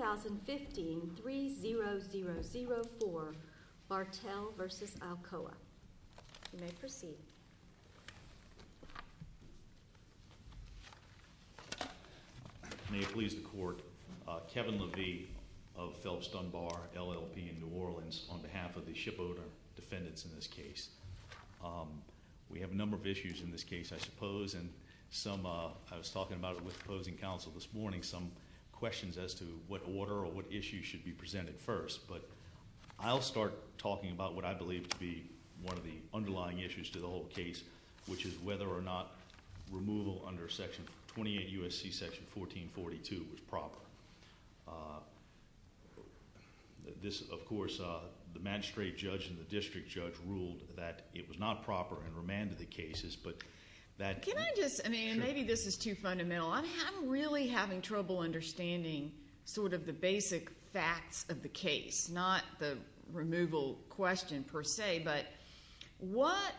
2015-3004 Bartel v. Alcoa. You may proceed. May it please the Court, Kevin Levy of Phelps Dunbar LLP in New Orleans on behalf of the shipowner defendants in this case. We have a number of issues in this case, I suppose, and some, I was talking about it with opposing counsel this morning, some questions as to what order or what issue should be presented first. But I'll start talking about what I believe to be one of the underlying issues to the whole case, which is whether or not removal under Section 28 U.S.C. Section 1442 was proper. This, of course, the magistrate judge and the district judge ruled that it was not proper and remanded the cases. Can I just, I mean, maybe this is too fundamental. I'm really having trouble understanding sort of the basic facts of the case, not the removal question per se. But what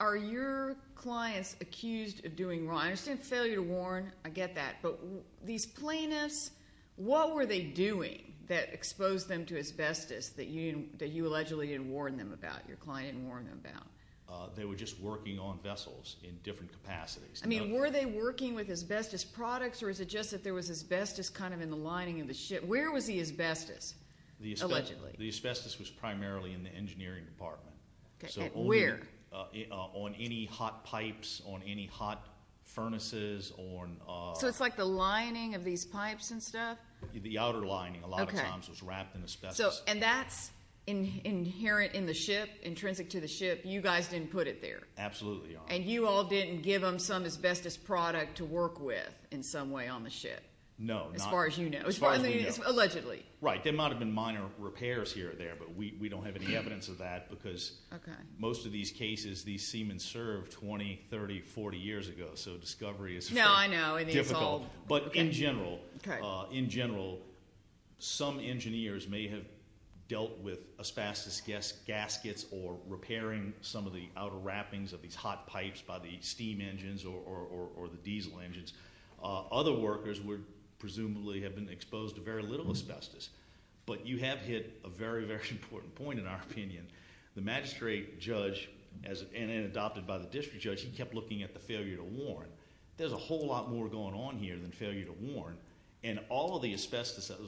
are your clients accused of doing wrong? I understand failure to warn, I get that. But these plaintiffs, what were they doing that exposed them to asbestos that you allegedly didn't warn them about, your client didn't warn them about? They were just working on vessels in different capacities. I mean, were they working with asbestos products or is it just that there was asbestos kind of in the lining of the ship? Where was the asbestos allegedly? The asbestos was primarily in the engineering department. Where? On any hot pipes, on any hot furnaces. So it's like the lining of these pipes and stuff? The outer lining a lot of times was wrapped in asbestos. And that's inherent in the ship, intrinsic to the ship, you guys didn't put it there? Absolutely not. And you all didn't give them some asbestos product to work with in some way on the ship? No. As far as you know. Allegedly. Right, there might have been minor repairs here or there, but we don't have any evidence of that because most of these cases, these seamen served 20, 30, 40 years ago, so discovery is difficult. No, I know. But in general, some engineers may have dealt with asbestos gaskets or repairing some of the outer wrappings of these hot pipes by the steam engines or the diesel engines. Other workers would presumably have been exposed to very little asbestos. But you have hit a very, very important point in our opinion. The magistrate judge, and then adopted by the district judge, he kept looking at the failure to warn. There's a whole lot more going on here than failure to warn. And all of the asbestos that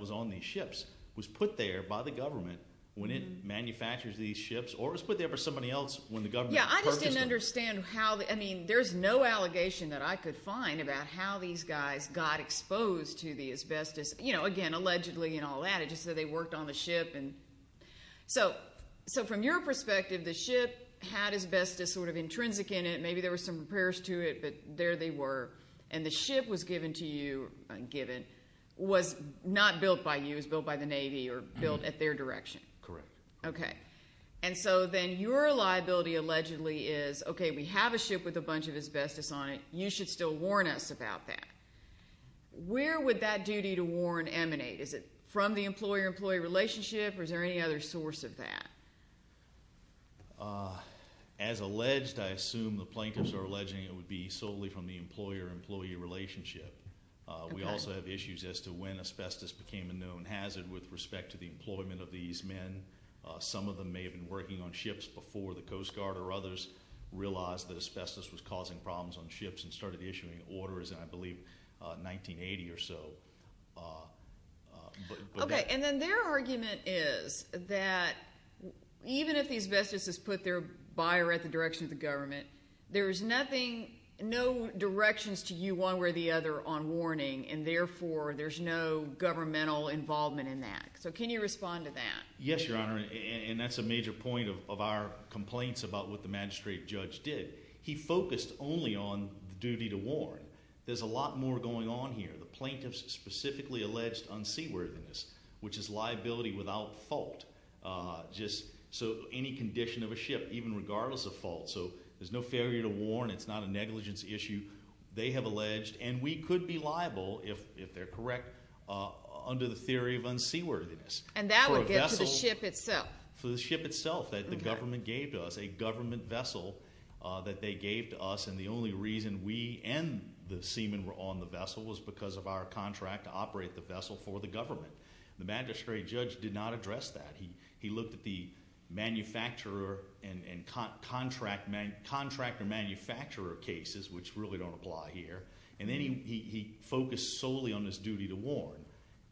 was on these ships was put there by the government when it manufactures these ships, or it was put there by somebody else when the government purchased them. Yeah, I just didn't understand how. I mean, there's no allegation that I could find about how these guys got exposed to the asbestos. Again, allegedly and all that. It just said they worked on the ship. So from your perspective, the ship had asbestos sort of intrinsic in it. Maybe there were some repairs to it, but there they were. And the ship was given to you, was not built by you. It was built by the Navy or built at their direction. Correct. Okay. And so then your liability allegedly is, okay, we have a ship with a bunch of asbestos on it. You should still warn us about that. Where would that duty to warn emanate? Is it from the employer-employee relationship, or is there any other source of that? As alleged, I assume the plaintiffs are alleging it would be solely from the employer-employee relationship. We also have issues as to when asbestos became a known hazard with respect to the employment of these men. Some of them may have been working on ships before the Coast Guard or others realized that asbestos was causing problems on ships and started issuing orders in, I believe, 1980 or so. Okay, and then their argument is that even if the asbestos is put there by or at the direction of the government, there is nothing, no directions to you one way or the other on warning, and therefore there's no governmental involvement in that. So can you respond to that? Yes, Your Honor, and that's a major point of our complaints about what the magistrate judge did. He focused only on the duty to warn. There's a lot more going on here. The plaintiffs specifically alleged unseaworthiness, which is liability without fault. So any condition of a ship, even regardless of fault. So there's no failure to warn. It's not a negligence issue, they have alleged. And we could be liable, if they're correct, under the theory of unseaworthiness. And that would get to the ship itself. For the ship itself that the government gave to us, a government vessel that they gave to us, and the only reason we and the seaman were on the vessel was because of our contract to operate the vessel for the government. The magistrate judge did not address that. He looked at the manufacturer and contractor-manufacturer cases, which really don't apply here, and then he focused solely on his duty to warn.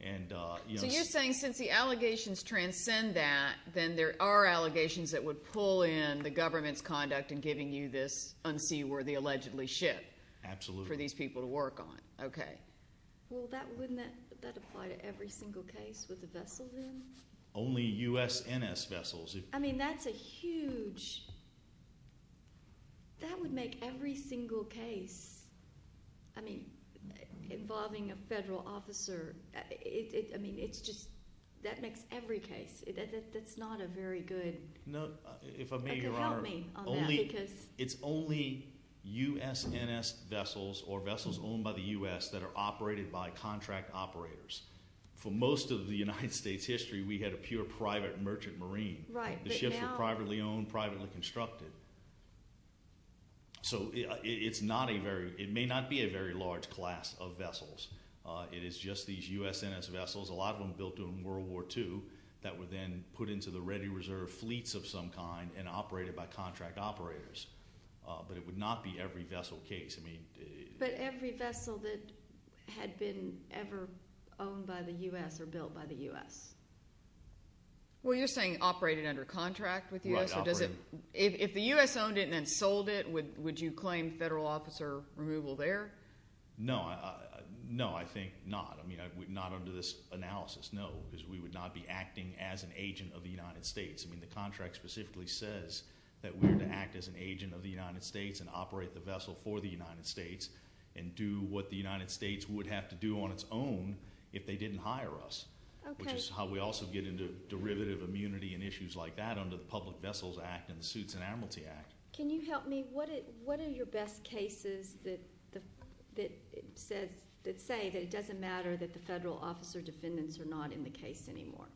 So you're saying since the allegations transcend that, then there are allegations that would pull in the government's conduct in giving you this unseaworthy, allegedly, ship. Absolutely. For these people to work on. Okay. Well, wouldn't that apply to every single case with the vessel then? Only USNS vessels. I mean, that's a huge... I mean, it's just that makes every case. That's not a very good... No, if I may, Your Honor. Help me on that because... It's only USNS vessels or vessels owned by the U.S. that are operated by contract operators. For most of the United States history, we had a pure private merchant marine. Right, but now... The ships were privately owned, privately constructed. So it's not a very... It may not be a very large class of vessels. It is just these USNS vessels, a lot of them built during World War II, that were then put into the ready reserve fleets of some kind and operated by contract operators. But it would not be every vessel case. But every vessel that had been ever owned by the U.S. or built by the U.S.? Well, you're saying operated under contract with the U.S.? Right, operated. If the U.S. owned it and then sold it, would you claim federal officer removal there? No, I think not. I mean, not under this analysis, no. Because we would not be acting as an agent of the United States. I mean, the contract specifically says that we are to act as an agent of the United States and operate the vessel for the United States and do what the United States would have to do on its own if they didn't hire us. Okay. Which is how we also get into derivative immunity and issues like that under the Public Vessels Act and the Suits and Amorty Act. Can you help me? What are your best cases that say that it doesn't matter that the federal officer defendants are not in the case anymore?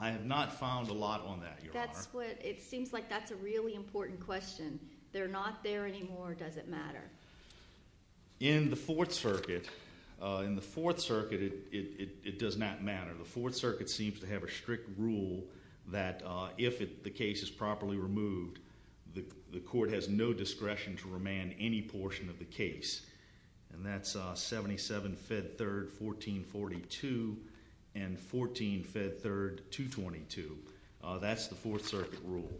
I have not found a lot on that, Your Honor. It seems like that's a really important question. They're not there anymore or does it matter? In the Fourth Circuit, it does not matter. The Fourth Circuit seems to have a strict rule that if the case is properly removed, the court has no discretion to remand any portion of the case. And that's 77 Fed 3rd 1442 and 14 Fed 3rd 222. That's the Fourth Circuit rule.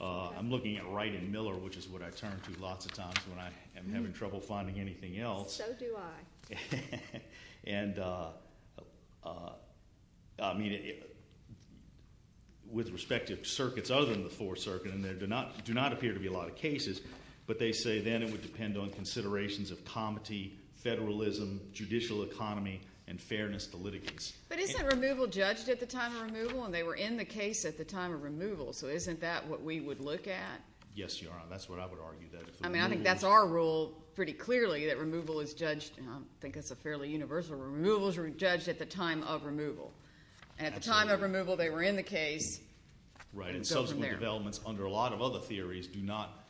I'm looking at Wright and Miller, which is what I turn to lots of times when I'm having trouble finding anything else. So do I. And, I mean, with respect to circuits other than the Fourth Circuit, and there do not appear to be a lot of cases, but they say then it would depend on considerations of comity, federalism, judicial economy, and fairness to litigants. But isn't removal judged at the time of removal? And they were in the case at the time of removal. So isn't that what we would look at? Yes, Your Honor. That's what I would argue. I mean, I think that's our rule pretty clearly that removal is judged. I think that's a fairly universal rule. Removal is judged at the time of removal. And at the time of removal, they were in the case. Right, and subsequent developments under a lot of other theories do not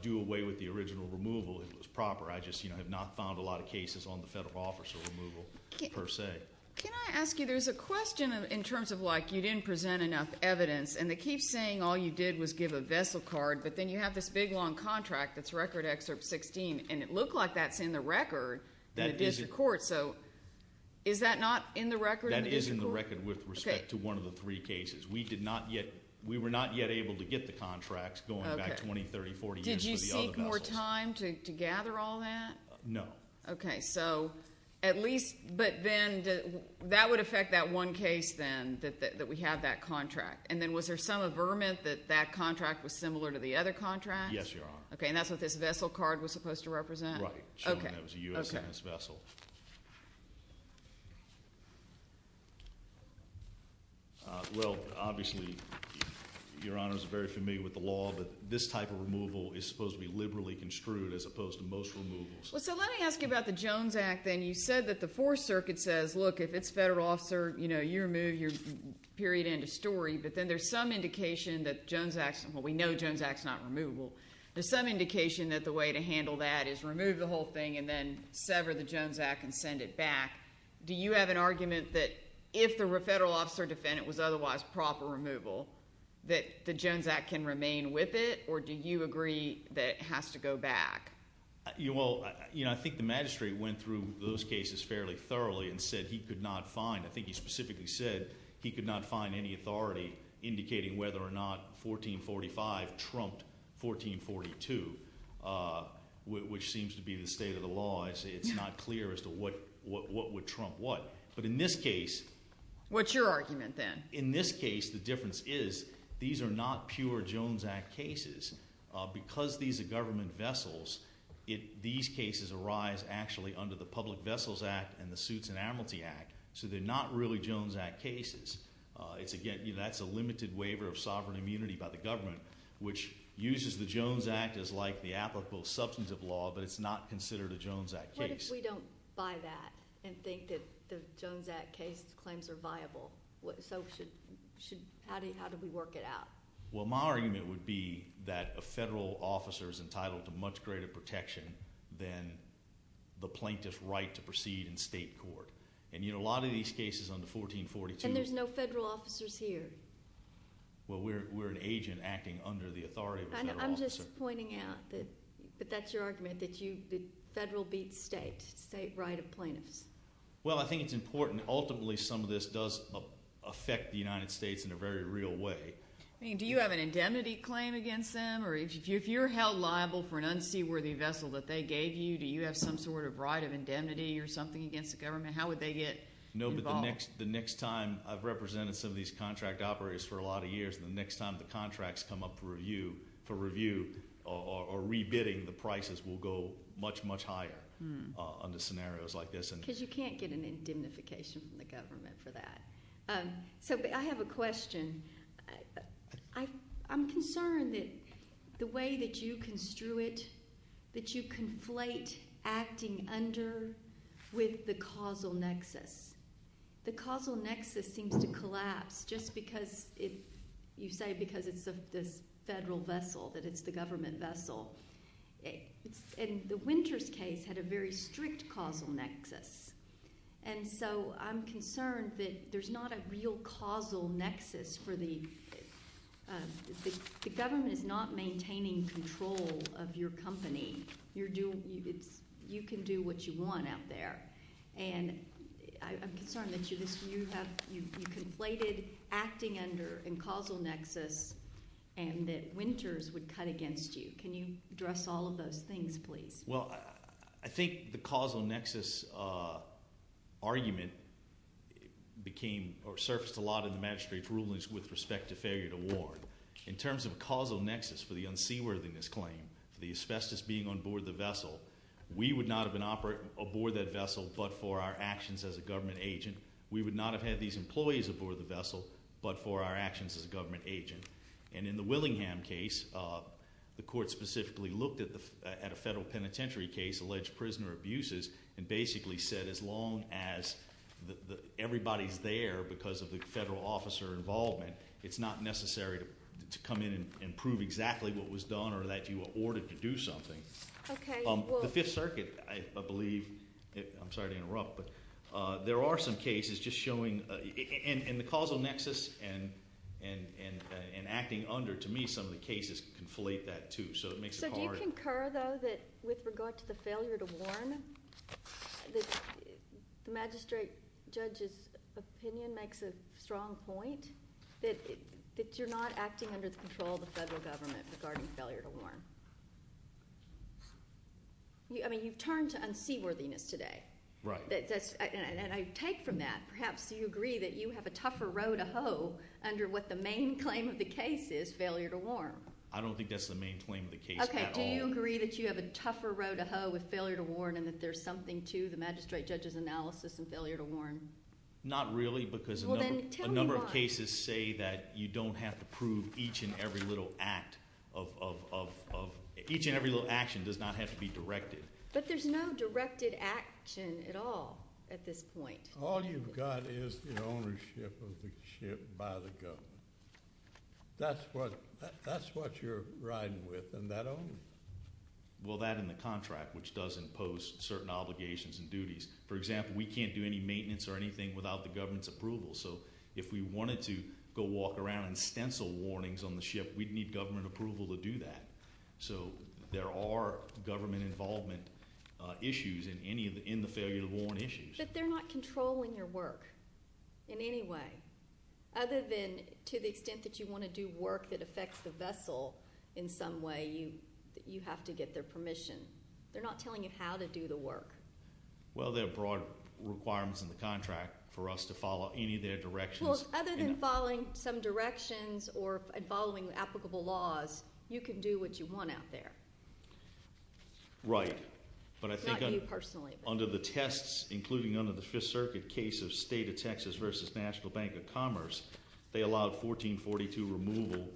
do away with the original removal. It was proper. I just have not found a lot of cases on the federal officer removal per se. Can I ask you, there's a question in terms of like you didn't present enough evidence, and they keep saying all you did was give a vessel card, but then you have this big, long contract that's Record Excerpt 16, and it looked like that's in the record in the district court. So is that not in the record in the district court? That is in the record with respect to one of the three cases. We did not yet, we were not yet able to get the contracts going back 20, 30, 40 years for the other vessels. Did you seek more time to gather all that? No. Okay, so at least, but then that would affect that one case then that we have that contract. And then was there some averment that that contract was similar to the other contract? Yes, Your Honor. Okay, and that's what this vessel card was supposed to represent? Right, showing that it was a U.S. business vessel. Well, obviously, Your Honor is very familiar with the law, but this type of removal is supposed to be liberally construed as opposed to most removals. Well, so let me ask you about the Jones Act then. You said that the Fourth Circuit says, look, if it's federal officer, you know, your period end of story, but then there's some indication that Jones Act, well, we know Jones Act's not removal. There's some indication that the way to handle that is remove the whole thing and then sever the Jones Act and send it back. Do you have an argument that if the federal officer defendant was otherwise proper removal, that the Jones Act can remain with it, or do you agree that it has to go back? Well, you know, I think the magistrate went through those cases fairly thoroughly and said he could not find. I think he specifically said he could not find any authority indicating whether or not 1445 trumped 1442, which seems to be the state of the law. It's not clear as to what would trump what. But in this case. What's your argument then? In this case, the difference is these are not pure Jones Act cases. Because these are government vessels, these cases arise actually under the Public Vessels Act and the Suits and Amnesty Act, so they're not really Jones Act cases. That's a limited waiver of sovereign immunity by the government, which uses the Jones Act as like the applicable substantive law, but it's not considered a Jones Act case. What if we don't buy that and think that the Jones Act case claims are viable? So how do we work it out? Well, my argument would be that a federal officer is entitled to much greater protection than the plaintiff's right to proceed in state court. And, you know, a lot of these cases under 1442. And there's no federal officers here. Well, we're an agent acting under the authority of a federal officer. I'm just pointing out that that's your argument, that the federal beats state, state right of plaintiffs. Well, I think it's important. Ultimately, some of this does affect the United States in a very real way. Do you have an indemnity claim against them? If you're held liable for an unseaworthy vessel that they gave you, do you have some sort of right of indemnity or something against the government? How would they get involved? No, but the next time I've represented some of these contract operators for a lot of years, the next time the contracts come up for review or rebidding, the prices will go much, much higher under scenarios like this. Because you can't get an indemnification from the government for that. So I have a question. I'm concerned that the way that you construe it, that you conflate acting under with the causal nexus. The causal nexus seems to collapse just because you say because it's this federal vessel, that it's the government vessel. And the Winters case had a very strict causal nexus. And so I'm concerned that there's not a real causal nexus for the—the government is not maintaining control of your company. You can do what you want out there. And I'm concerned that you conflated acting under and causal nexus and that Winters would cut against you. Can you address all of those things, please? Well, I think the causal nexus argument became, or surfaced a lot in the magistrate's rulings with respect to failure to warn. In terms of a causal nexus for the unseaworthiness claim, for the asbestos being on board the vessel, we would not have been aboard that vessel but for our actions as a government agent. We would not have had these employees aboard the vessel but for our actions as a government agent. And in the Willingham case, the court specifically looked at a federal penitentiary case, alleged prisoner abuses, and basically said as long as everybody's there because of the federal officer involvement, it's not necessary to come in and prove exactly what was done or that you were ordered to do something. Okay. The Fifth Circuit, I believe—I'm sorry to interrupt, but there are some cases just showing— and acting under, to me, some of the cases conflate that too. So it makes it hard. So do you concur, though, that with regard to the failure to warn, the magistrate judge's opinion makes a strong point that you're not acting under the control of the federal government regarding failure to warn? I mean you've turned to unseaworthiness today. Right. And I take from that. Perhaps you agree that you have a tougher row to hoe under what the main claim of the case is, failure to warn. I don't think that's the main claim of the case at all. Okay. Do you agree that you have a tougher row to hoe with failure to warn and that there's something to the magistrate judge's analysis in failure to warn? Not really because a number of cases say that you don't have to prove each and every little act of— each and every little action does not have to be directed. But there's no directed action at all at this point. All you've got is the ownership of the ship by the government. That's what you're riding with and that only. Well, that and the contract, which does impose certain obligations and duties. For example, we can't do any maintenance or anything without the government's approval. So if we wanted to go walk around and stencil warnings on the ship, we'd need government approval to do that. So there are government involvement issues in the failure to warn issues. But they're not controlling your work in any way. Other than to the extent that you want to do work that affects the vessel in some way, you have to get their permission. They're not telling you how to do the work. Well, there are broad requirements in the contract for us to follow any of their directions. Well, other than following some directions or following applicable laws, you can do what you want out there. Right. Not you personally. But I think under the tests, including under the Fifth Circuit case of State of Texas v. National Bank of Commerce, they allowed 1442 removal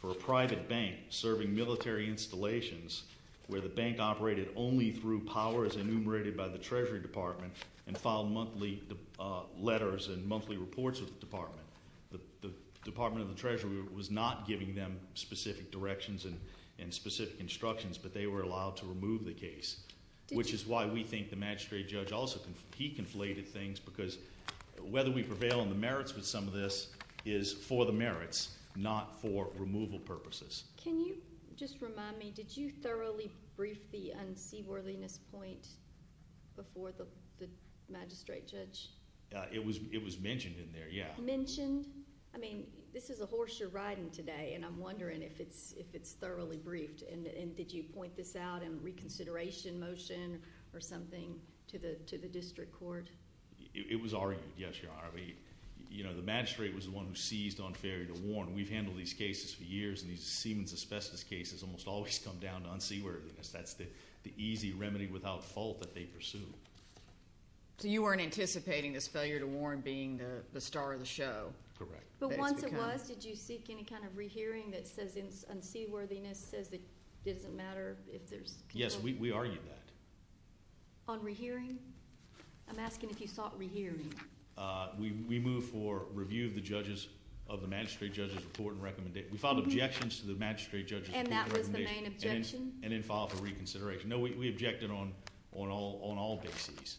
for a private bank serving military installations where the bank operated only through powers enumerated by the Treasury Department and filed monthly letters and monthly reports with the department. The Department of the Treasury was not giving them specific directions and specific instructions, but they were allowed to remove the case, which is why we think the magistrate judge also, he conflated things because whether we prevail on the merits with some of this is for the merits, not for removal purposes. Can you just remind me, did you thoroughly brief the unseaworthiness point before the magistrate judge? It was mentioned in there, yeah. Mentioned? I mean, this is a horse you're riding today, and I'm wondering if it's thoroughly briefed. And did you point this out in a reconsideration motion or something to the district court? It was argued, yes, Your Honor. The magistrate was the one who seized unfairly to warn. We've handled these cases for years, and these Siemens asbestos cases almost always come down to unseaworthiness. That's the easy remedy without fault that they pursue. So you weren't anticipating this failure to warn being the star of the show? Correct. But once it was, did you seek any kind of rehearing that says unseaworthiness, says it doesn't matter if there's control? Yes, we argued that. On rehearing? I'm asking if you sought rehearing. We moved for review of the magistrate judge's report and recommendation. We filed objections to the magistrate judge's report and recommendation. And that was the main objection? And then filed for reconsideration. No, we objected on all cases.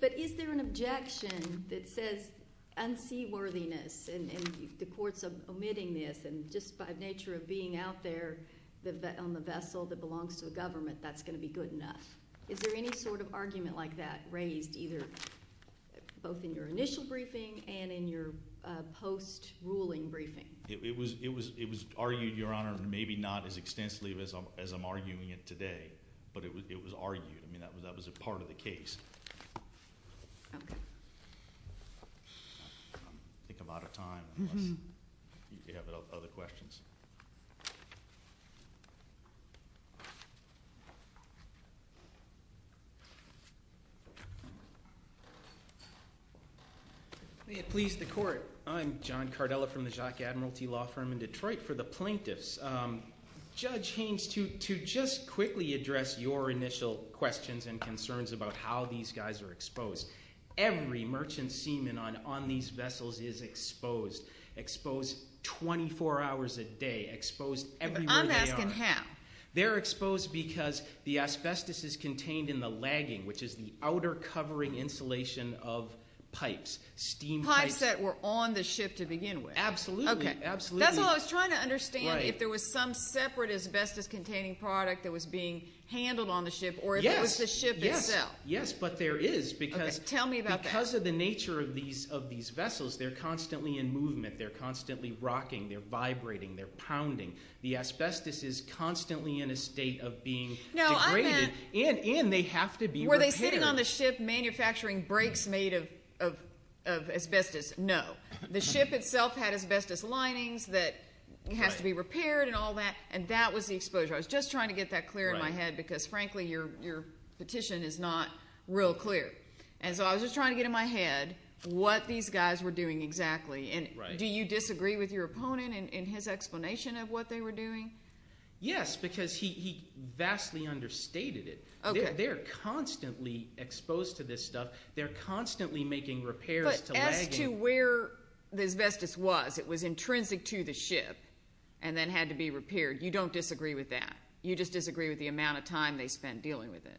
But is there an objection that says unseaworthiness, and the court's omitting this, and just by nature of being out there on the vessel that belongs to the government, that's going to be good enough? Is there any sort of argument like that raised either both in your initial briefing and in your post-ruling briefing? It was argued, Your Honor, maybe not as extensively as I'm arguing it today, but it was argued. I mean, that was a part of the case. Okay. I think I'm out of time unless you have other questions. May it please the court. I'm John Cardella from the Jacques Admiralty Law Firm in Detroit. For the plaintiffs, Judge Haynes, to just quickly address your initial questions and concerns about how these guys are exposed. Every merchant seaman on these vessels is exposed, exposed 24 hours a day, exposed everywhere they are. I'm asking how. They're exposed because the asbestos is contained in the lagging, which is the outer covering insulation of pipes, steam pipes. Pipes that were on the ship to begin with. Absolutely. Okay. Absolutely. That's what I was trying to understand, if there was some separate asbestos-containing product that was being handled on the ship. Yes. Or if it was the ship itself. Yes. But there is. Tell me about that. Because of the nature of these vessels, they're constantly in movement. They're constantly rocking. They're vibrating. They're pounding. The asbestos is constantly in a state of being degraded, and they have to be repaired. Were they sitting on the ship manufacturing brakes made of asbestos? No. The ship itself had asbestos linings that has to be repaired and all that, and that was the exposure. I was just trying to get that clear in my head because, frankly, your petition is not real clear. And so I was just trying to get in my head what these guys were doing exactly. Right. Do you disagree with your opponent in his explanation of what they were doing? Yes, because he vastly understated it. Okay. They're constantly exposed to this stuff. They're constantly making repairs to lagging. But as to where the asbestos was, it was intrinsic to the ship and then had to be repaired. You don't disagree with that. You just disagree with the amount of time they spent dealing with it.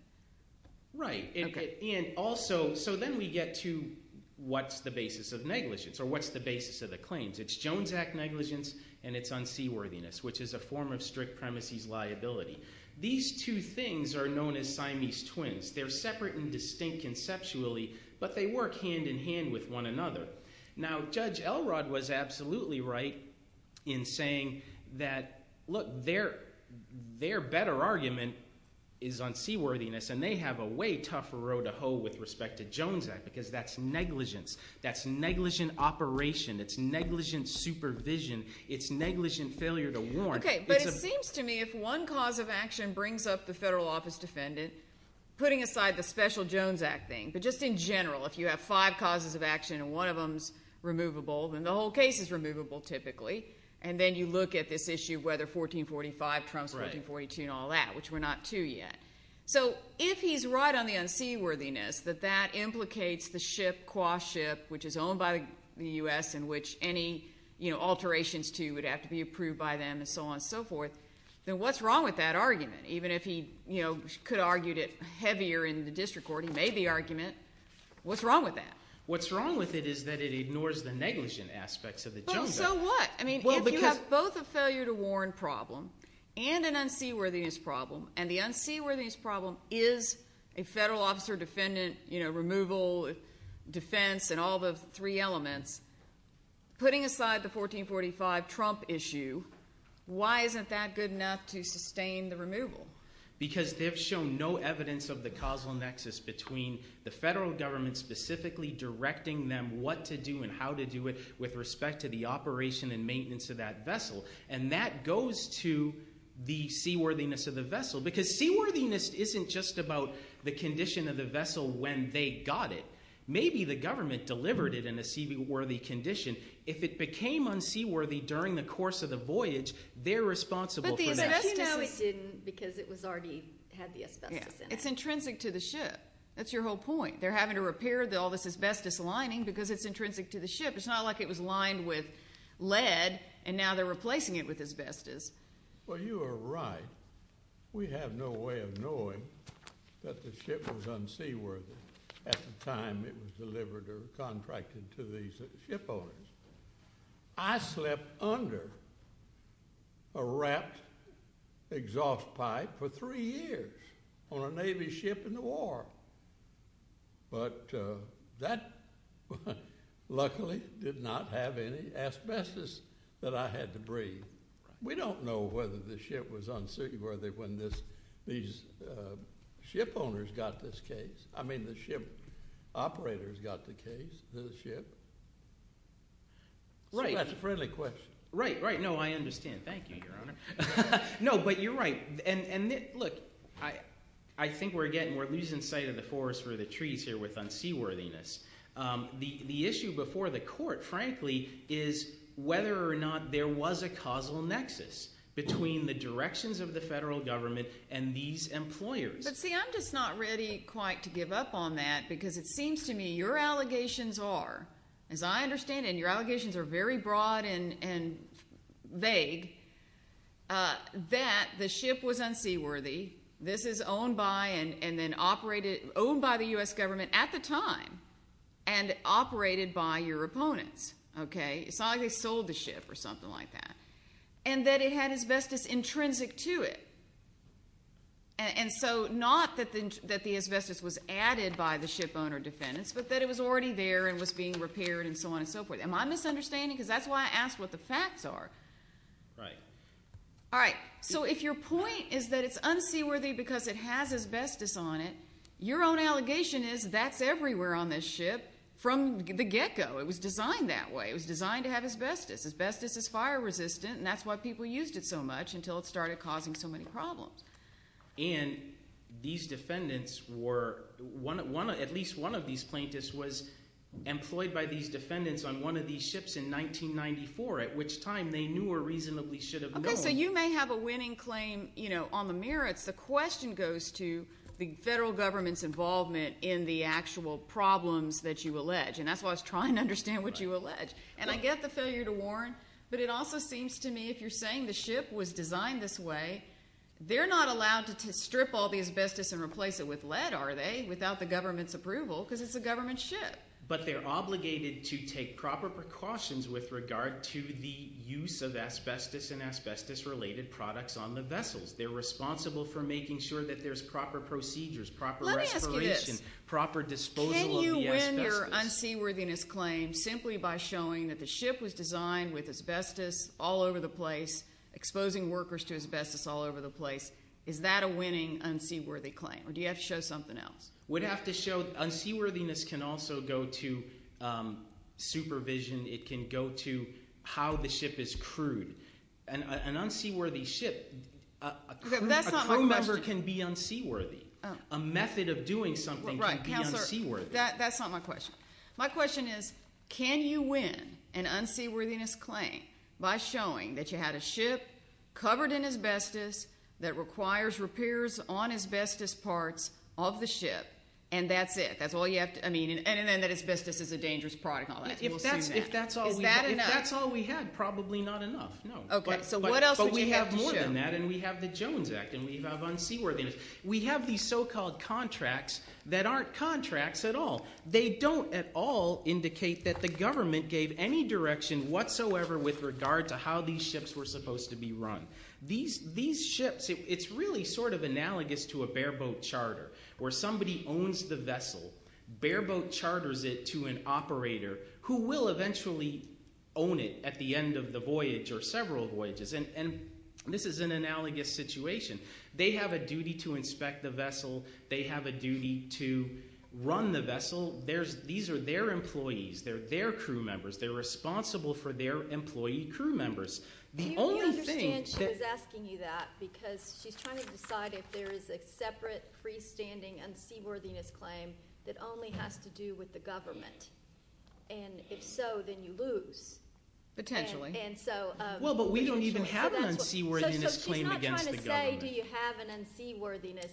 Right. Okay. So then we get to what's the basis of negligence or what's the basis of the claims. It's Jones Act negligence and it's unseaworthiness, which is a form of strict premises liability. These two things are known as Siamese twins. They're separate and distinct conceptually, but they work hand-in-hand with one another. Now, Judge Elrod was absolutely right in saying that, look, their better argument is unseaworthiness. And they have a way tougher row to hoe with respect to Jones Act because that's negligence. That's negligent operation. It's negligent supervision. It's negligent failure to warn. Okay, but it seems to me if one cause of action brings up the federal office defendant, putting aside the special Jones Act thing, but just in general, if you have five causes of action and one of them is removable, then the whole case is removable typically. And then you look at this issue of whether 1445 trumps 1442 and all that, which we're not to yet. So if he's right on the unseaworthiness, that that implicates the ship, Quah ship, which is owned by the U.S. and which any alterations to would have to be approved by them and so on and so forth, then what's wrong with that argument? Even if he could have argued it heavier in the district court, he made the argument. What's wrong with that? What's wrong with it is that it ignores the negligent aspects of the Jones Act. So what? I mean if you have both a failure to warn problem and an unseaworthiness problem, and the unseaworthiness problem is a federal officer defendant removal defense and all the three elements, putting aside the 1445 Trump issue, why isn't that good enough to sustain the removal? Because they've shown no evidence of the causal nexus between the federal government specifically directing them what to do and how to do it with respect to the operation and maintenance of that vessel. And that goes to the seaworthiness of the vessel because seaworthiness isn't just about the condition of the vessel when they got it. Maybe the government delivered it in a seaworthy condition. If it became unseaworthy during the course of the voyage, they're responsible for that. But the asbestos isn't because it already had the asbestos in it. It's intrinsic to the ship. That's your whole point. They're having to repair all this asbestos lining because it's intrinsic to the ship. It's not like it was lined with lead, and now they're replacing it with asbestos. Well, you are right. We have no way of knowing that the ship was unseaworthy at the time it was delivered or contracted to the ship owners. I slept under a wrapped exhaust pipe for three years on a Navy ship in the war. But that luckily did not have any asbestos that I had to breathe. We don't know whether the ship was unseaworthy when these ship owners got this case. I mean the ship operators got the case, the ship. So that's a friendly question. Right, right. No, I understand. Thank you, Your Honor. No, but you're right. And, look, I think we're losing sight of the forest for the trees here with unseaworthiness. The issue before the court, frankly, is whether or not there was a causal nexus between the directions of the federal government and these employers. But, see, I'm just not ready quite to give up on that because it seems to me your allegations are, as I understand it, and your allegations are very broad and vague, that the ship was unseaworthy. This is owned by and then operated, owned by the U.S. government at the time and operated by your opponents, okay? It's not like they sold the ship or something like that. And that it had asbestos intrinsic to it. And so not that the asbestos was added by the ship owner defendants, but that it was already there and was being repaired and so on and so forth. Am I misunderstanding? Because that's why I asked what the facts are. Right. All right. So if your point is that it's unseaworthy because it has asbestos on it, your own allegation is that's everywhere on this ship from the get-go. It was designed that way. It was designed to have asbestos. Asbestos is fire resistant, and that's why people used it so much until it started causing so many problems. And these defendants were, at least one of these plaintiffs was employed by these defendants on one of these ships in 1994, at which time they knew or reasonably should have known. Okay, so you may have a winning claim on the merits. The question goes to the federal government's involvement in the actual problems that you allege, and that's why I was trying to understand what you allege. And I get the failure to warn, but it also seems to me if you're saying the ship was designed this way, they're not allowed to strip all the asbestos and replace it with lead, are they, without the government's approval because it's a government ship. But they're obligated to take proper precautions with regard to the use of asbestos and asbestos-related products on the vessels. They're responsible for making sure that there's proper procedures, proper respiration, proper disposal of the asbestos. Is that your unseaworthiness claim simply by showing that the ship was designed with asbestos all over the place, exposing workers to asbestos all over the place? Is that a winning unseaworthy claim, or do you have to show something else? We'd have to show – unseaworthiness can also go to supervision. It can go to how the ship is crewed. An unseaworthy ship – a crew member can be unseaworthy. A method of doing something can be unseaworthy. That's not my question. My question is, can you win an unseaworthiness claim by showing that you had a ship covered in asbestos that requires repairs on asbestos parts of the ship, and that's it? That's all you have to – I mean, and then that asbestos is a dangerous product and all that. If that's all we had, probably not enough, no. Okay, so what else would you have to show? But we have more than that, and we have the Jones Act, and we have unseaworthiness. We have these so-called contracts that aren't contracts at all. They don't at all indicate that the government gave any direction whatsoever with regard to how these ships were supposed to be run. These ships – it's really sort of analogous to a bareboat charter where somebody owns the vessel, bareboat charters it to an operator who will eventually own it at the end of the voyage or several voyages. And this is an analogous situation. They have a duty to inspect the vessel. They have a duty to run the vessel. These are their employees. They're their crew members. They're responsible for their employee crew members. The only thing – Do you understand she was asking you that because she's trying to decide if there is a separate freestanding unseaworthiness claim that only has to do with the government? And if so, then you lose. Potentially. Well, but we don't even have an unseaworthiness claim against the government. Why do you have an unseaworthiness?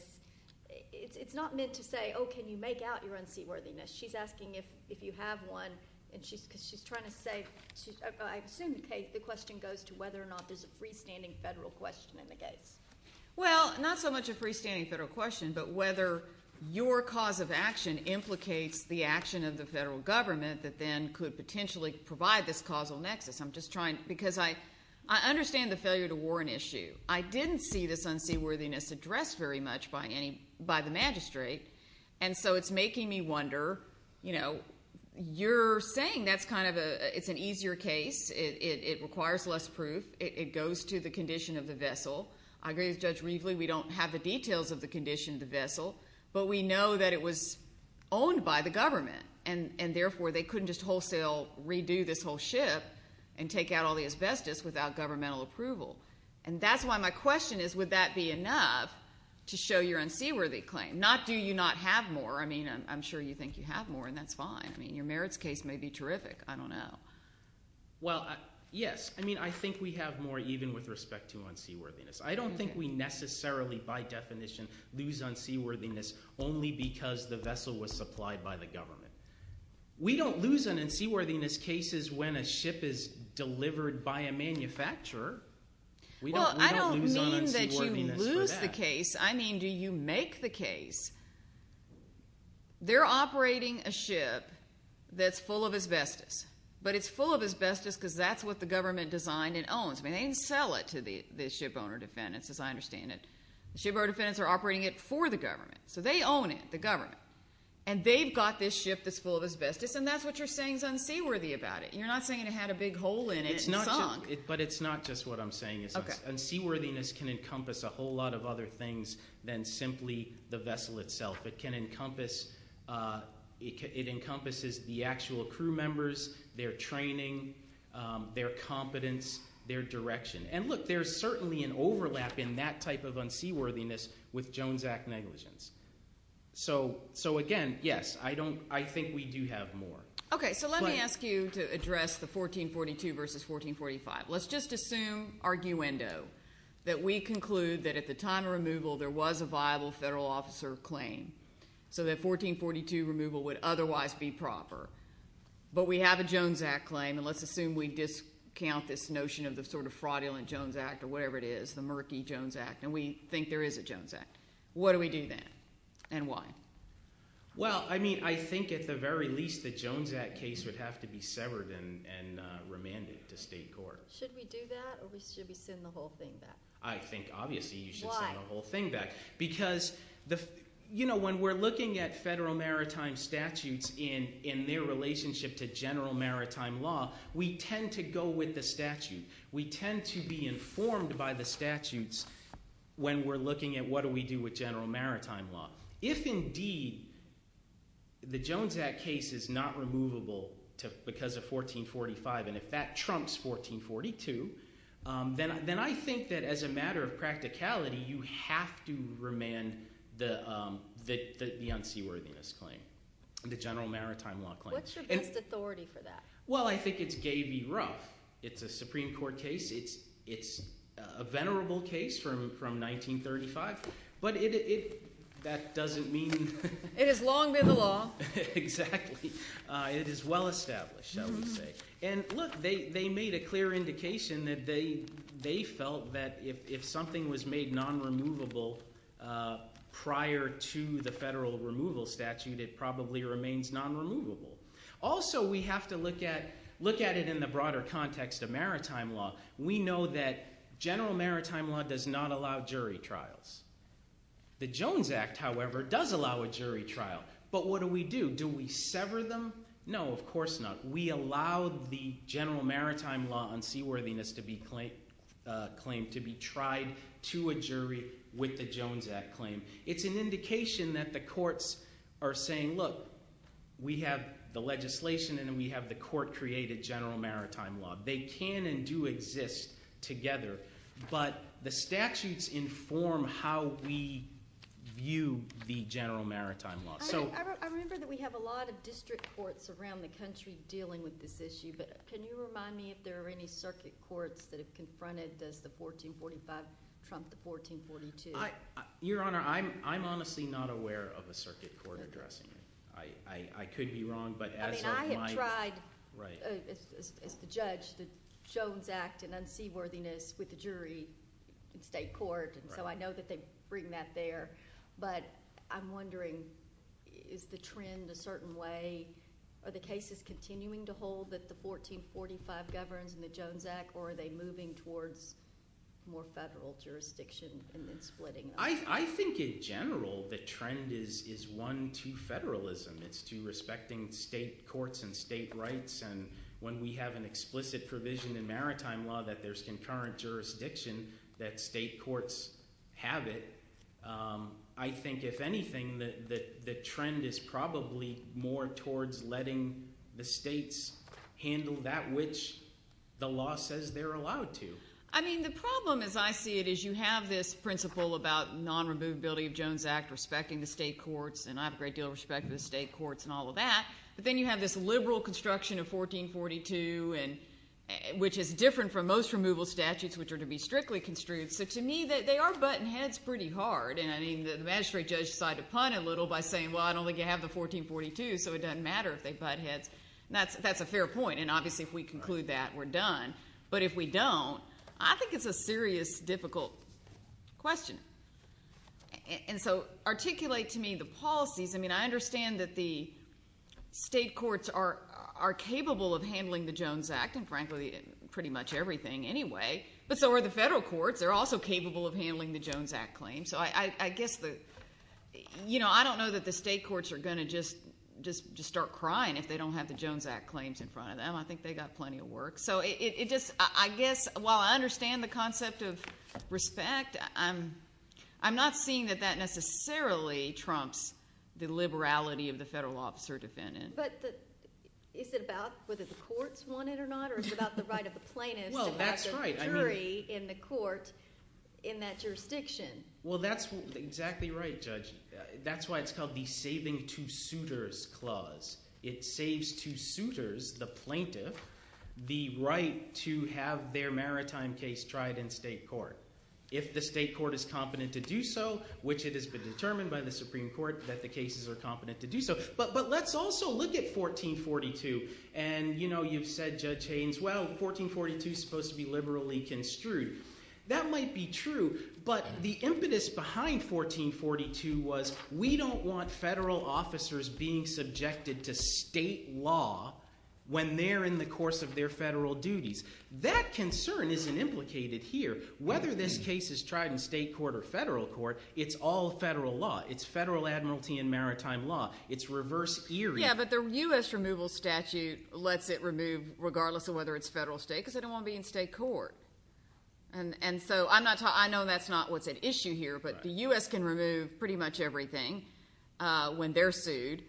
It's not meant to say, oh, can you make out your unseaworthiness. She's asking if you have one because she's trying to say – I assume the question goes to whether or not there's a freestanding federal question in the case. Well, not so much a freestanding federal question but whether your cause of action implicates the action of the federal government that then could potentially provide this causal nexus. I'm just trying – because I understand the failure to warrant issue. I didn't see this unseaworthiness addressed very much by the magistrate, and so it's making me wonder. You're saying that's kind of a – it's an easier case. It requires less proof. It goes to the condition of the vessel. I agree with Judge Riefle. We don't have the details of the condition of the vessel, but we know that it was owned by the government, and therefore they couldn't just wholesale redo this whole ship and take out all the asbestos without governmental approval. And that's why my question is would that be enough to show your unseaworthy claim? Not do you not have more. I mean I'm sure you think you have more, and that's fine. I mean your merits case may be terrific. I don't know. Well, yes. I mean I think we have more even with respect to unseaworthiness. I don't think we necessarily by definition lose unseaworthiness only because the vessel was supplied by the government. We don't lose unseaworthiness cases when a ship is delivered by a manufacturer. We don't lose unseaworthiness for that. Well, I don't mean that you lose the case. I mean do you make the case they're operating a ship that's full of asbestos, but it's full of asbestos because that's what the government designed and owns. I mean they didn't sell it to the shipowner defendants as I understand it. The shipowner defendants are operating it for the government, so they own it, the government. And they've got this ship that's full of asbestos, and that's what you're saying is unseaworthy about it. You're not saying it had a big hole in it and sunk. But it's not just what I'm saying. Unseaworthiness can encompass a whole lot of other things than simply the vessel itself. It encompasses the actual crew members, their training, their competence, their direction. And, look, there's certainly an overlap in that type of unseaworthiness with Jones Act negligence. So, again, yes, I think we do have more. Okay, so let me ask you to address the 1442 versus 1445. Let's just assume, arguendo, that we conclude that at the time of removal there was a viable federal officer claim so that 1442 removal would otherwise be proper. But we have a Jones Act claim, and let's assume we discount this notion of the sort of fraudulent Jones Act or whatever it is, the murky Jones Act, and we think there is a Jones Act. What do we do then and why? Well, I mean I think at the very least the Jones Act case would have to be severed and remanded to state court. Should we do that or should we send the whole thing back? I think obviously you should send the whole thing back. Why? Because, you know, when we're looking at federal maritime statutes in their relationship to general maritime law, we tend to go with the statute. We tend to be informed by the statutes when we're looking at what do we do with general maritime law. If indeed the Jones Act case is not removable because of 1445 and if that trumps 1442, then I think that as a matter of practicality you have to remand the unseaworthiness claim, the general maritime law claim. What's your best authority for that? Well, I think it's gavy rough. It's a Supreme Court case. It's a venerable case from 1935, but it – that doesn't mean – It has long been the law. Exactly. It is well established, I would say. And look, they made a clear indication that they felt that if something was made non-removable prior to the federal removal statute, it probably remains non-removable. Also, we have to look at it in the broader context of maritime law. We know that general maritime law does not allow jury trials. The Jones Act, however, does allow a jury trial. But what do we do? Do we sever them? No, of course not. We allow the general maritime law unseaworthiness claim to be tried to a jury with the Jones Act claim. It's an indication that the courts are saying, look, we have the legislation and we have the court-created general maritime law. They can and do exist together, but the statutes inform how we view the general maritime law. I remember that we have a lot of district courts around the country dealing with this issue, but can you remind me if there are any circuit courts that have confronted, does the 1445 trump the 1442? Your Honor, I'm honestly not aware of a circuit court addressing it. I could be wrong, but as of my – I mean I have tried as the judge the Jones Act and unseaworthiness with the jury in state court, and so I know that they bring that there. But I'm wondering, is the trend a certain way? Are the cases continuing to hold that the 1445 governs and the Jones Act, or are they moving towards more federal jurisdiction and then splitting them? I think in general the trend is one to federalism. It's to respecting state courts and state rights, and when we have an explicit provision in maritime law that there's concurrent jurisdiction that state courts have it. I think, if anything, the trend is probably more towards letting the states handle that which the law says they're allowed to. I mean the problem as I see it is you have this principle about non-removability of Jones Act, respecting the state courts, and I have a great deal of respect for the state courts and all of that. But then you have this liberal construction of 1442, which is different from most removal statutes, which are to be strictly construed. So to me they are butting heads pretty hard, and I mean the magistrate judge decided to punt a little by saying, well, I don't think you have the 1442, so it doesn't matter if they butt heads. That's a fair point, and obviously if we conclude that we're done. But if we don't, I think it's a serious, difficult question. And so articulate to me the policies. I mean I understand that the state courts are capable of handling the Jones Act, and frankly pretty much everything anyway, but so are the federal courts. They're also capable of handling the Jones Act claims. So I guess the – I don't know that the state courts are going to just start crying if they don't have the Jones Act claims in front of them. I think they've got plenty of work. So it just – I guess while I understand the concept of respect, I'm not seeing that that necessarily trumps the liberality of the federal officer defendant. But is it about whether the courts want it or not, or is it about the right of the plaintiff to have the jury in the court in that jurisdiction? Well, that's exactly right, Judge. That's why it's called the Saving to Suitors Clause. It saves to suitors, the plaintiff, the right to have their maritime case tried in state court. If the state court is competent to do so, which it has been determined by the Supreme Court that the cases are competent to do so. But let's also look at 1442. And you've said, Judge Haynes, well, 1442 is supposed to be liberally construed. That might be true, but the impetus behind 1442 was we don't want federal officers being subjected to state law when they're in the course of their federal duties. That concern isn't implicated here. Whether this case is tried in state court or federal court, it's all federal law. It's federal admiralty and maritime law. It's reverse eerie. Yeah, but the U.S. removal statute lets it remove regardless of whether it's federal or state because they don't want to be in state court. And so I know that's not what's at issue here, but the U.S. can remove pretty much everything when they're sued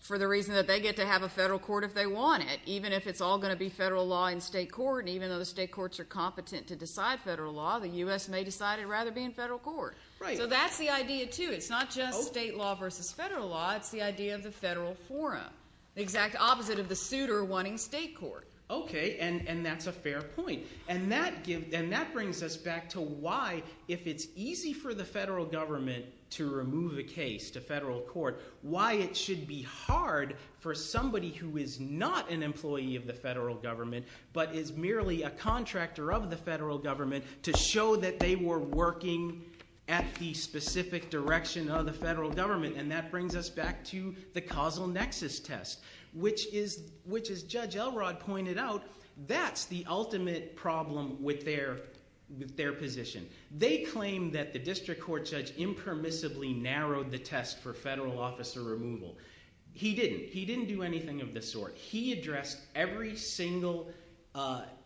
for the reason that they get to have a federal court if they want it, even if it's all going to be federal law in state court. And even though the state courts are competent to decide federal law, the U.S. may decide they'd rather be in federal court. So that's the idea, too. It's not just state law versus federal law. It's the idea of the federal forum, the exact opposite of the suitor wanting state court. Okay, and that's a fair point. And that brings us back to why, if it's easy for the federal government to remove a case to federal court, why it should be hard for somebody who is not an employee of the federal government but is merely a contractor of the federal government to show that they were working at the specific direction of the federal government. And that brings us back to the causal nexus test, which, as Judge Elrod pointed out, that's the ultimate problem with their position. They claim that the district court judge impermissibly narrowed the test for federal officer removal. He didn't. He didn't do anything of the sort. He addressed every single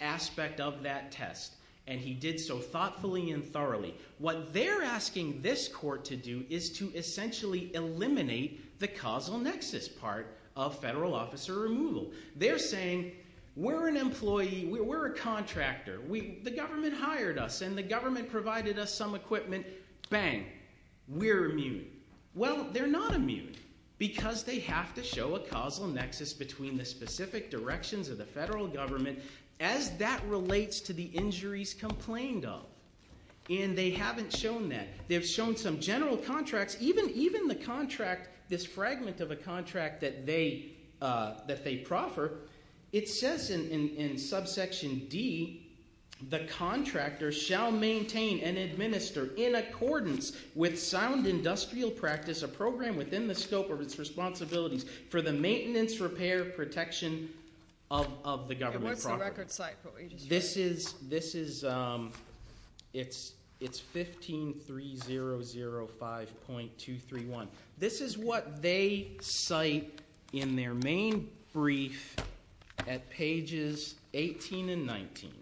aspect of that test, and he did so thoughtfully and thoroughly. What they're asking this court to do is to essentially eliminate the causal nexus part of federal officer removal. They're saying we're an employee, we're a contractor, the government hired us, and the government provided us some equipment, bang, we're immune. Well, they're not immune because they have to show a causal nexus between the specific directions of the federal government as that relates to the injuries complained of. And they haven't shown that. They've shown some general contracts. Even the contract, this fragment of a contract that they proffer, it says in subsection D, the contractor shall maintain and administer, in accordance with sound industrial practice, a program within the scope of its responsibilities, for the maintenance, repair, protection of the government property. This is, it's 153005.231. This is what they cite in their main brief at pages 18 and 19.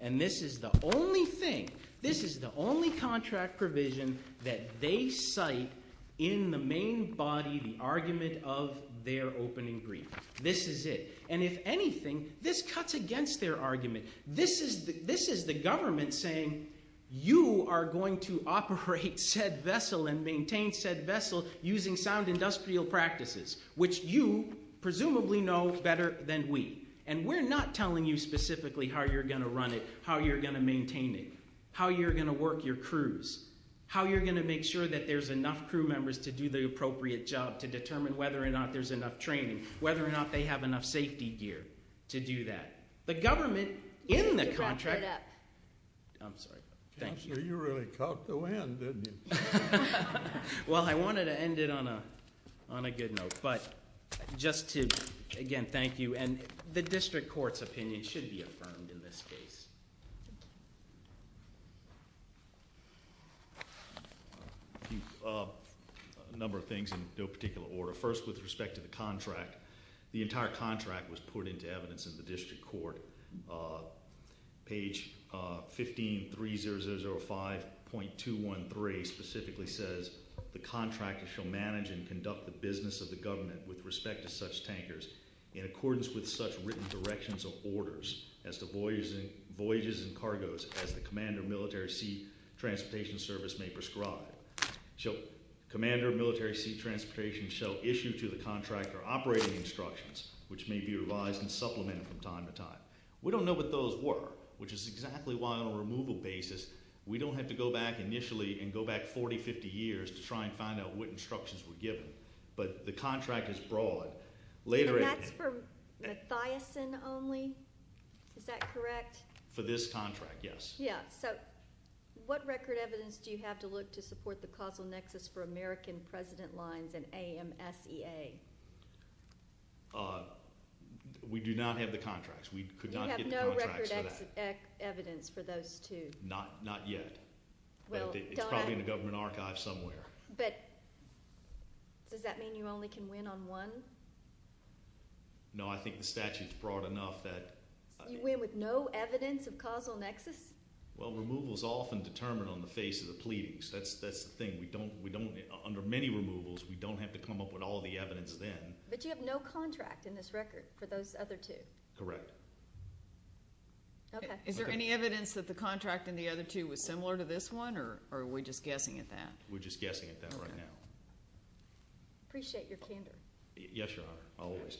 And this is the only thing, this is the only contract provision that they cite in the main body, the argument of their opening brief. This is it. And if anything, this cuts against their argument. This is the government saying you are going to operate said vessel and maintain said vessel using sound industrial practices, which you presumably know better than we. And we're not telling you specifically how you're going to run it, how you're going to maintain it, how you're going to work your crews, how you're going to make sure that there's enough crew members to do the appropriate job to determine whether or not there's enough training, whether or not they have enough safety gear to do that. The government in the contract. I'm sorry. Thank you. Counselor, you really caught the wind, didn't you? Well, I wanted to end it on a good note. But just to, again, thank you. And the district court's opinion should be affirmed in this case. A number of things in no particular order. First, with respect to the contract, the entire contract was put into evidence in the district court. Page 15-3005.213 specifically says, the contractor shall manage and conduct the business of the government with respect to such tankers in accordance with such written directions or orders as to voyages and cargos as the commander of military sea transportation service may prescribe. Commander of military sea transportation shall issue to the contractor operating instructions, which may be revised and supplemented from time to time. We don't know what those were, which is exactly why on a removal basis we don't have to go back initially and go back 40, 50 years to try and find out what instructions were given. But the contract is broad. And that's for Mathiasson only? Is that correct? For this contract, yes. Yeah, so what record evidence do you have to look to support the causal nexus for American president lines and AMSEA? We do not have the contracts. We could not get the contracts for that. You have no record evidence for those two? Not yet. It's probably in the government archive somewhere. But does that mean you only can win on one? No, I think the statute's broad enough that I mean. And with no evidence of causal nexus? Well, removal is often determined on the face of the pleadings. That's the thing. We don't, under many removals, we don't have to come up with all the evidence then. But you have no contract in this record for those other two? Correct. Okay. Is there any evidence that the contract in the other two was similar to this one, or are we just guessing at that? We're just guessing at that right now. Appreciate your candor. Yes, Your Honor, always.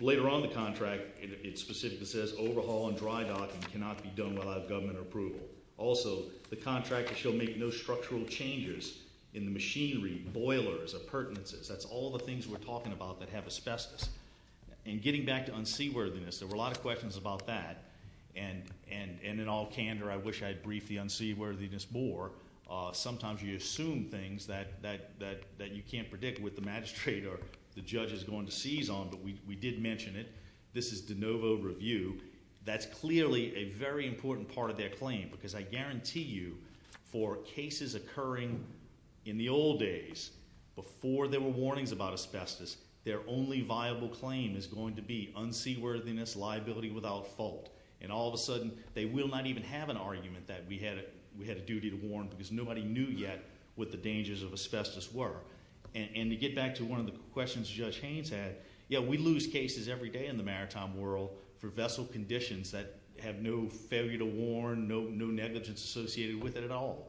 Later on the contract, it specifically says, overhaul and dry docking cannot be done without government approval. Also, the contract shall make no structural changes in the machinery, boilers, appurtenances. That's all the things we're talking about that have asbestos. And getting back to unseaworthiness, there were a lot of questions about that. And in all candor, I wish I had briefed the unseaworthiness more. Sometimes you assume things that you can't predict with the magistrate or the judge is going to seize on, but we did mention it. This is de novo review. That's clearly a very important part of their claim, because I guarantee you for cases occurring in the old days, before there were warnings about asbestos, their only viable claim is going to be unseaworthiness, liability without fault. And all of a sudden, they will not even have an argument that we had a duty to warn, because nobody knew yet what the dangers of asbestos were. And to get back to one of the questions Judge Haynes had, yeah, we lose cases every day in the maritime world for vessel conditions that have no failure to warn, no negligence associated with it at all.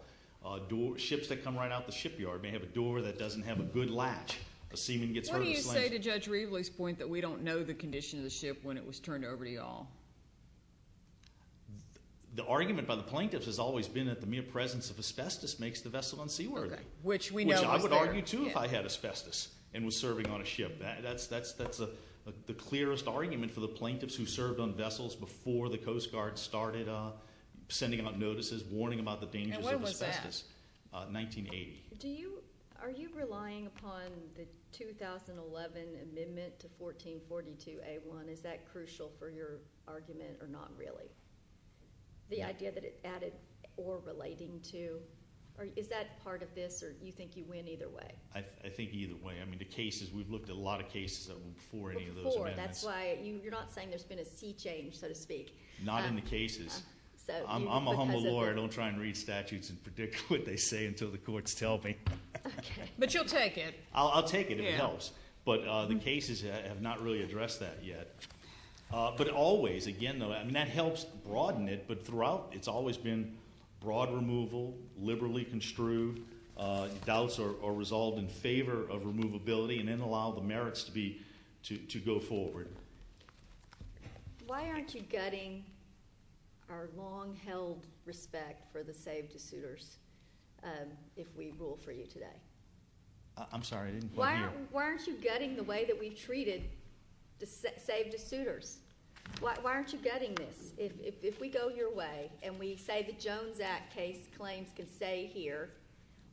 Ships that come right out the shipyard may have a door that doesn't have a good latch. A seaman gets hurt or slammed. What do you say to Judge Reveley's point that we don't know the condition of the ship when it was turned over to you all? The argument by the plaintiffs has always been that the mere presence of asbestos makes the vessel unseaworthy. Okay, which we know was there. Which I would argue too if I had asbestos and was serving on a ship. That's the clearest argument for the plaintiffs who served on vessels before the Coast Guard started sending out notices warning about the dangers of asbestos. And when was that? 1980. Are you relying upon the 2011 amendment to 1442A1? Is that crucial for your argument or not really? The idea that it added or relating to? Is that part of this or do you think you win either way? I think either way. I mean, the cases, we've looked at a lot of cases before any of those amendments. Before. That's why you're not saying there's been a sea change, so to speak. Not in the cases. I'm a humble lawyer. I don't try and read statutes and predict what they say until the courts tell me. Okay. But you'll take it. I'll take it if it helps. But the cases have not really addressed that yet. But always, again, that helps broaden it. But throughout, it's always been broad removal, liberally construed. Doubts are resolved in favor of removability and then allow the merits to go forward. Why aren't you gutting our long-held respect for the saved-to-suitors if we rule for you today? I'm sorry. I didn't hear. Why aren't you gutting the way that we've treated saved-to-suitors? Why aren't you gutting this? If we go your way and we say the Jones Act case claims can stay here,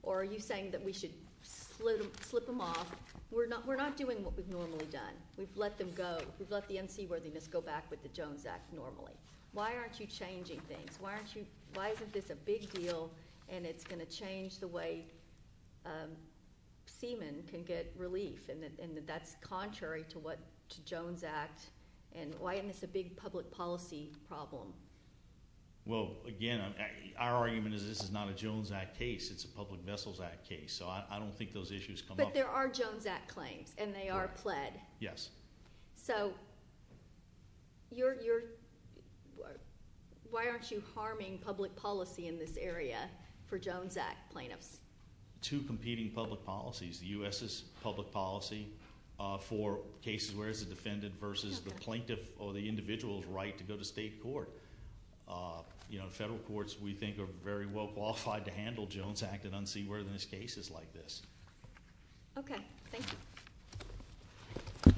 or are you saying that we should slip them off? We're not doing what we've normally done. We've let them go. We've let the unseaworthiness go back with the Jones Act normally. Why aren't you changing things? Why isn't this a big deal and it's going to change the way seamen can get relief? And that's contrary to what Jones Act and why isn't this a big public policy problem? Well, again, our argument is this is not a Jones Act case. It's a Public Vessels Act case. So I don't think those issues come up. But there are Jones Act claims, and they are pled. Yes. So why aren't you harming public policy in this area for Jones Act plaintiffs? Two competing public policies. The U.S.'s public policy for cases where it's the defendant versus the plaintiff or the individual's right to go to state court. Federal courts, we think, are very well qualified to handle Jones Act and unseaworthiness cases like this. Okay. Thank you.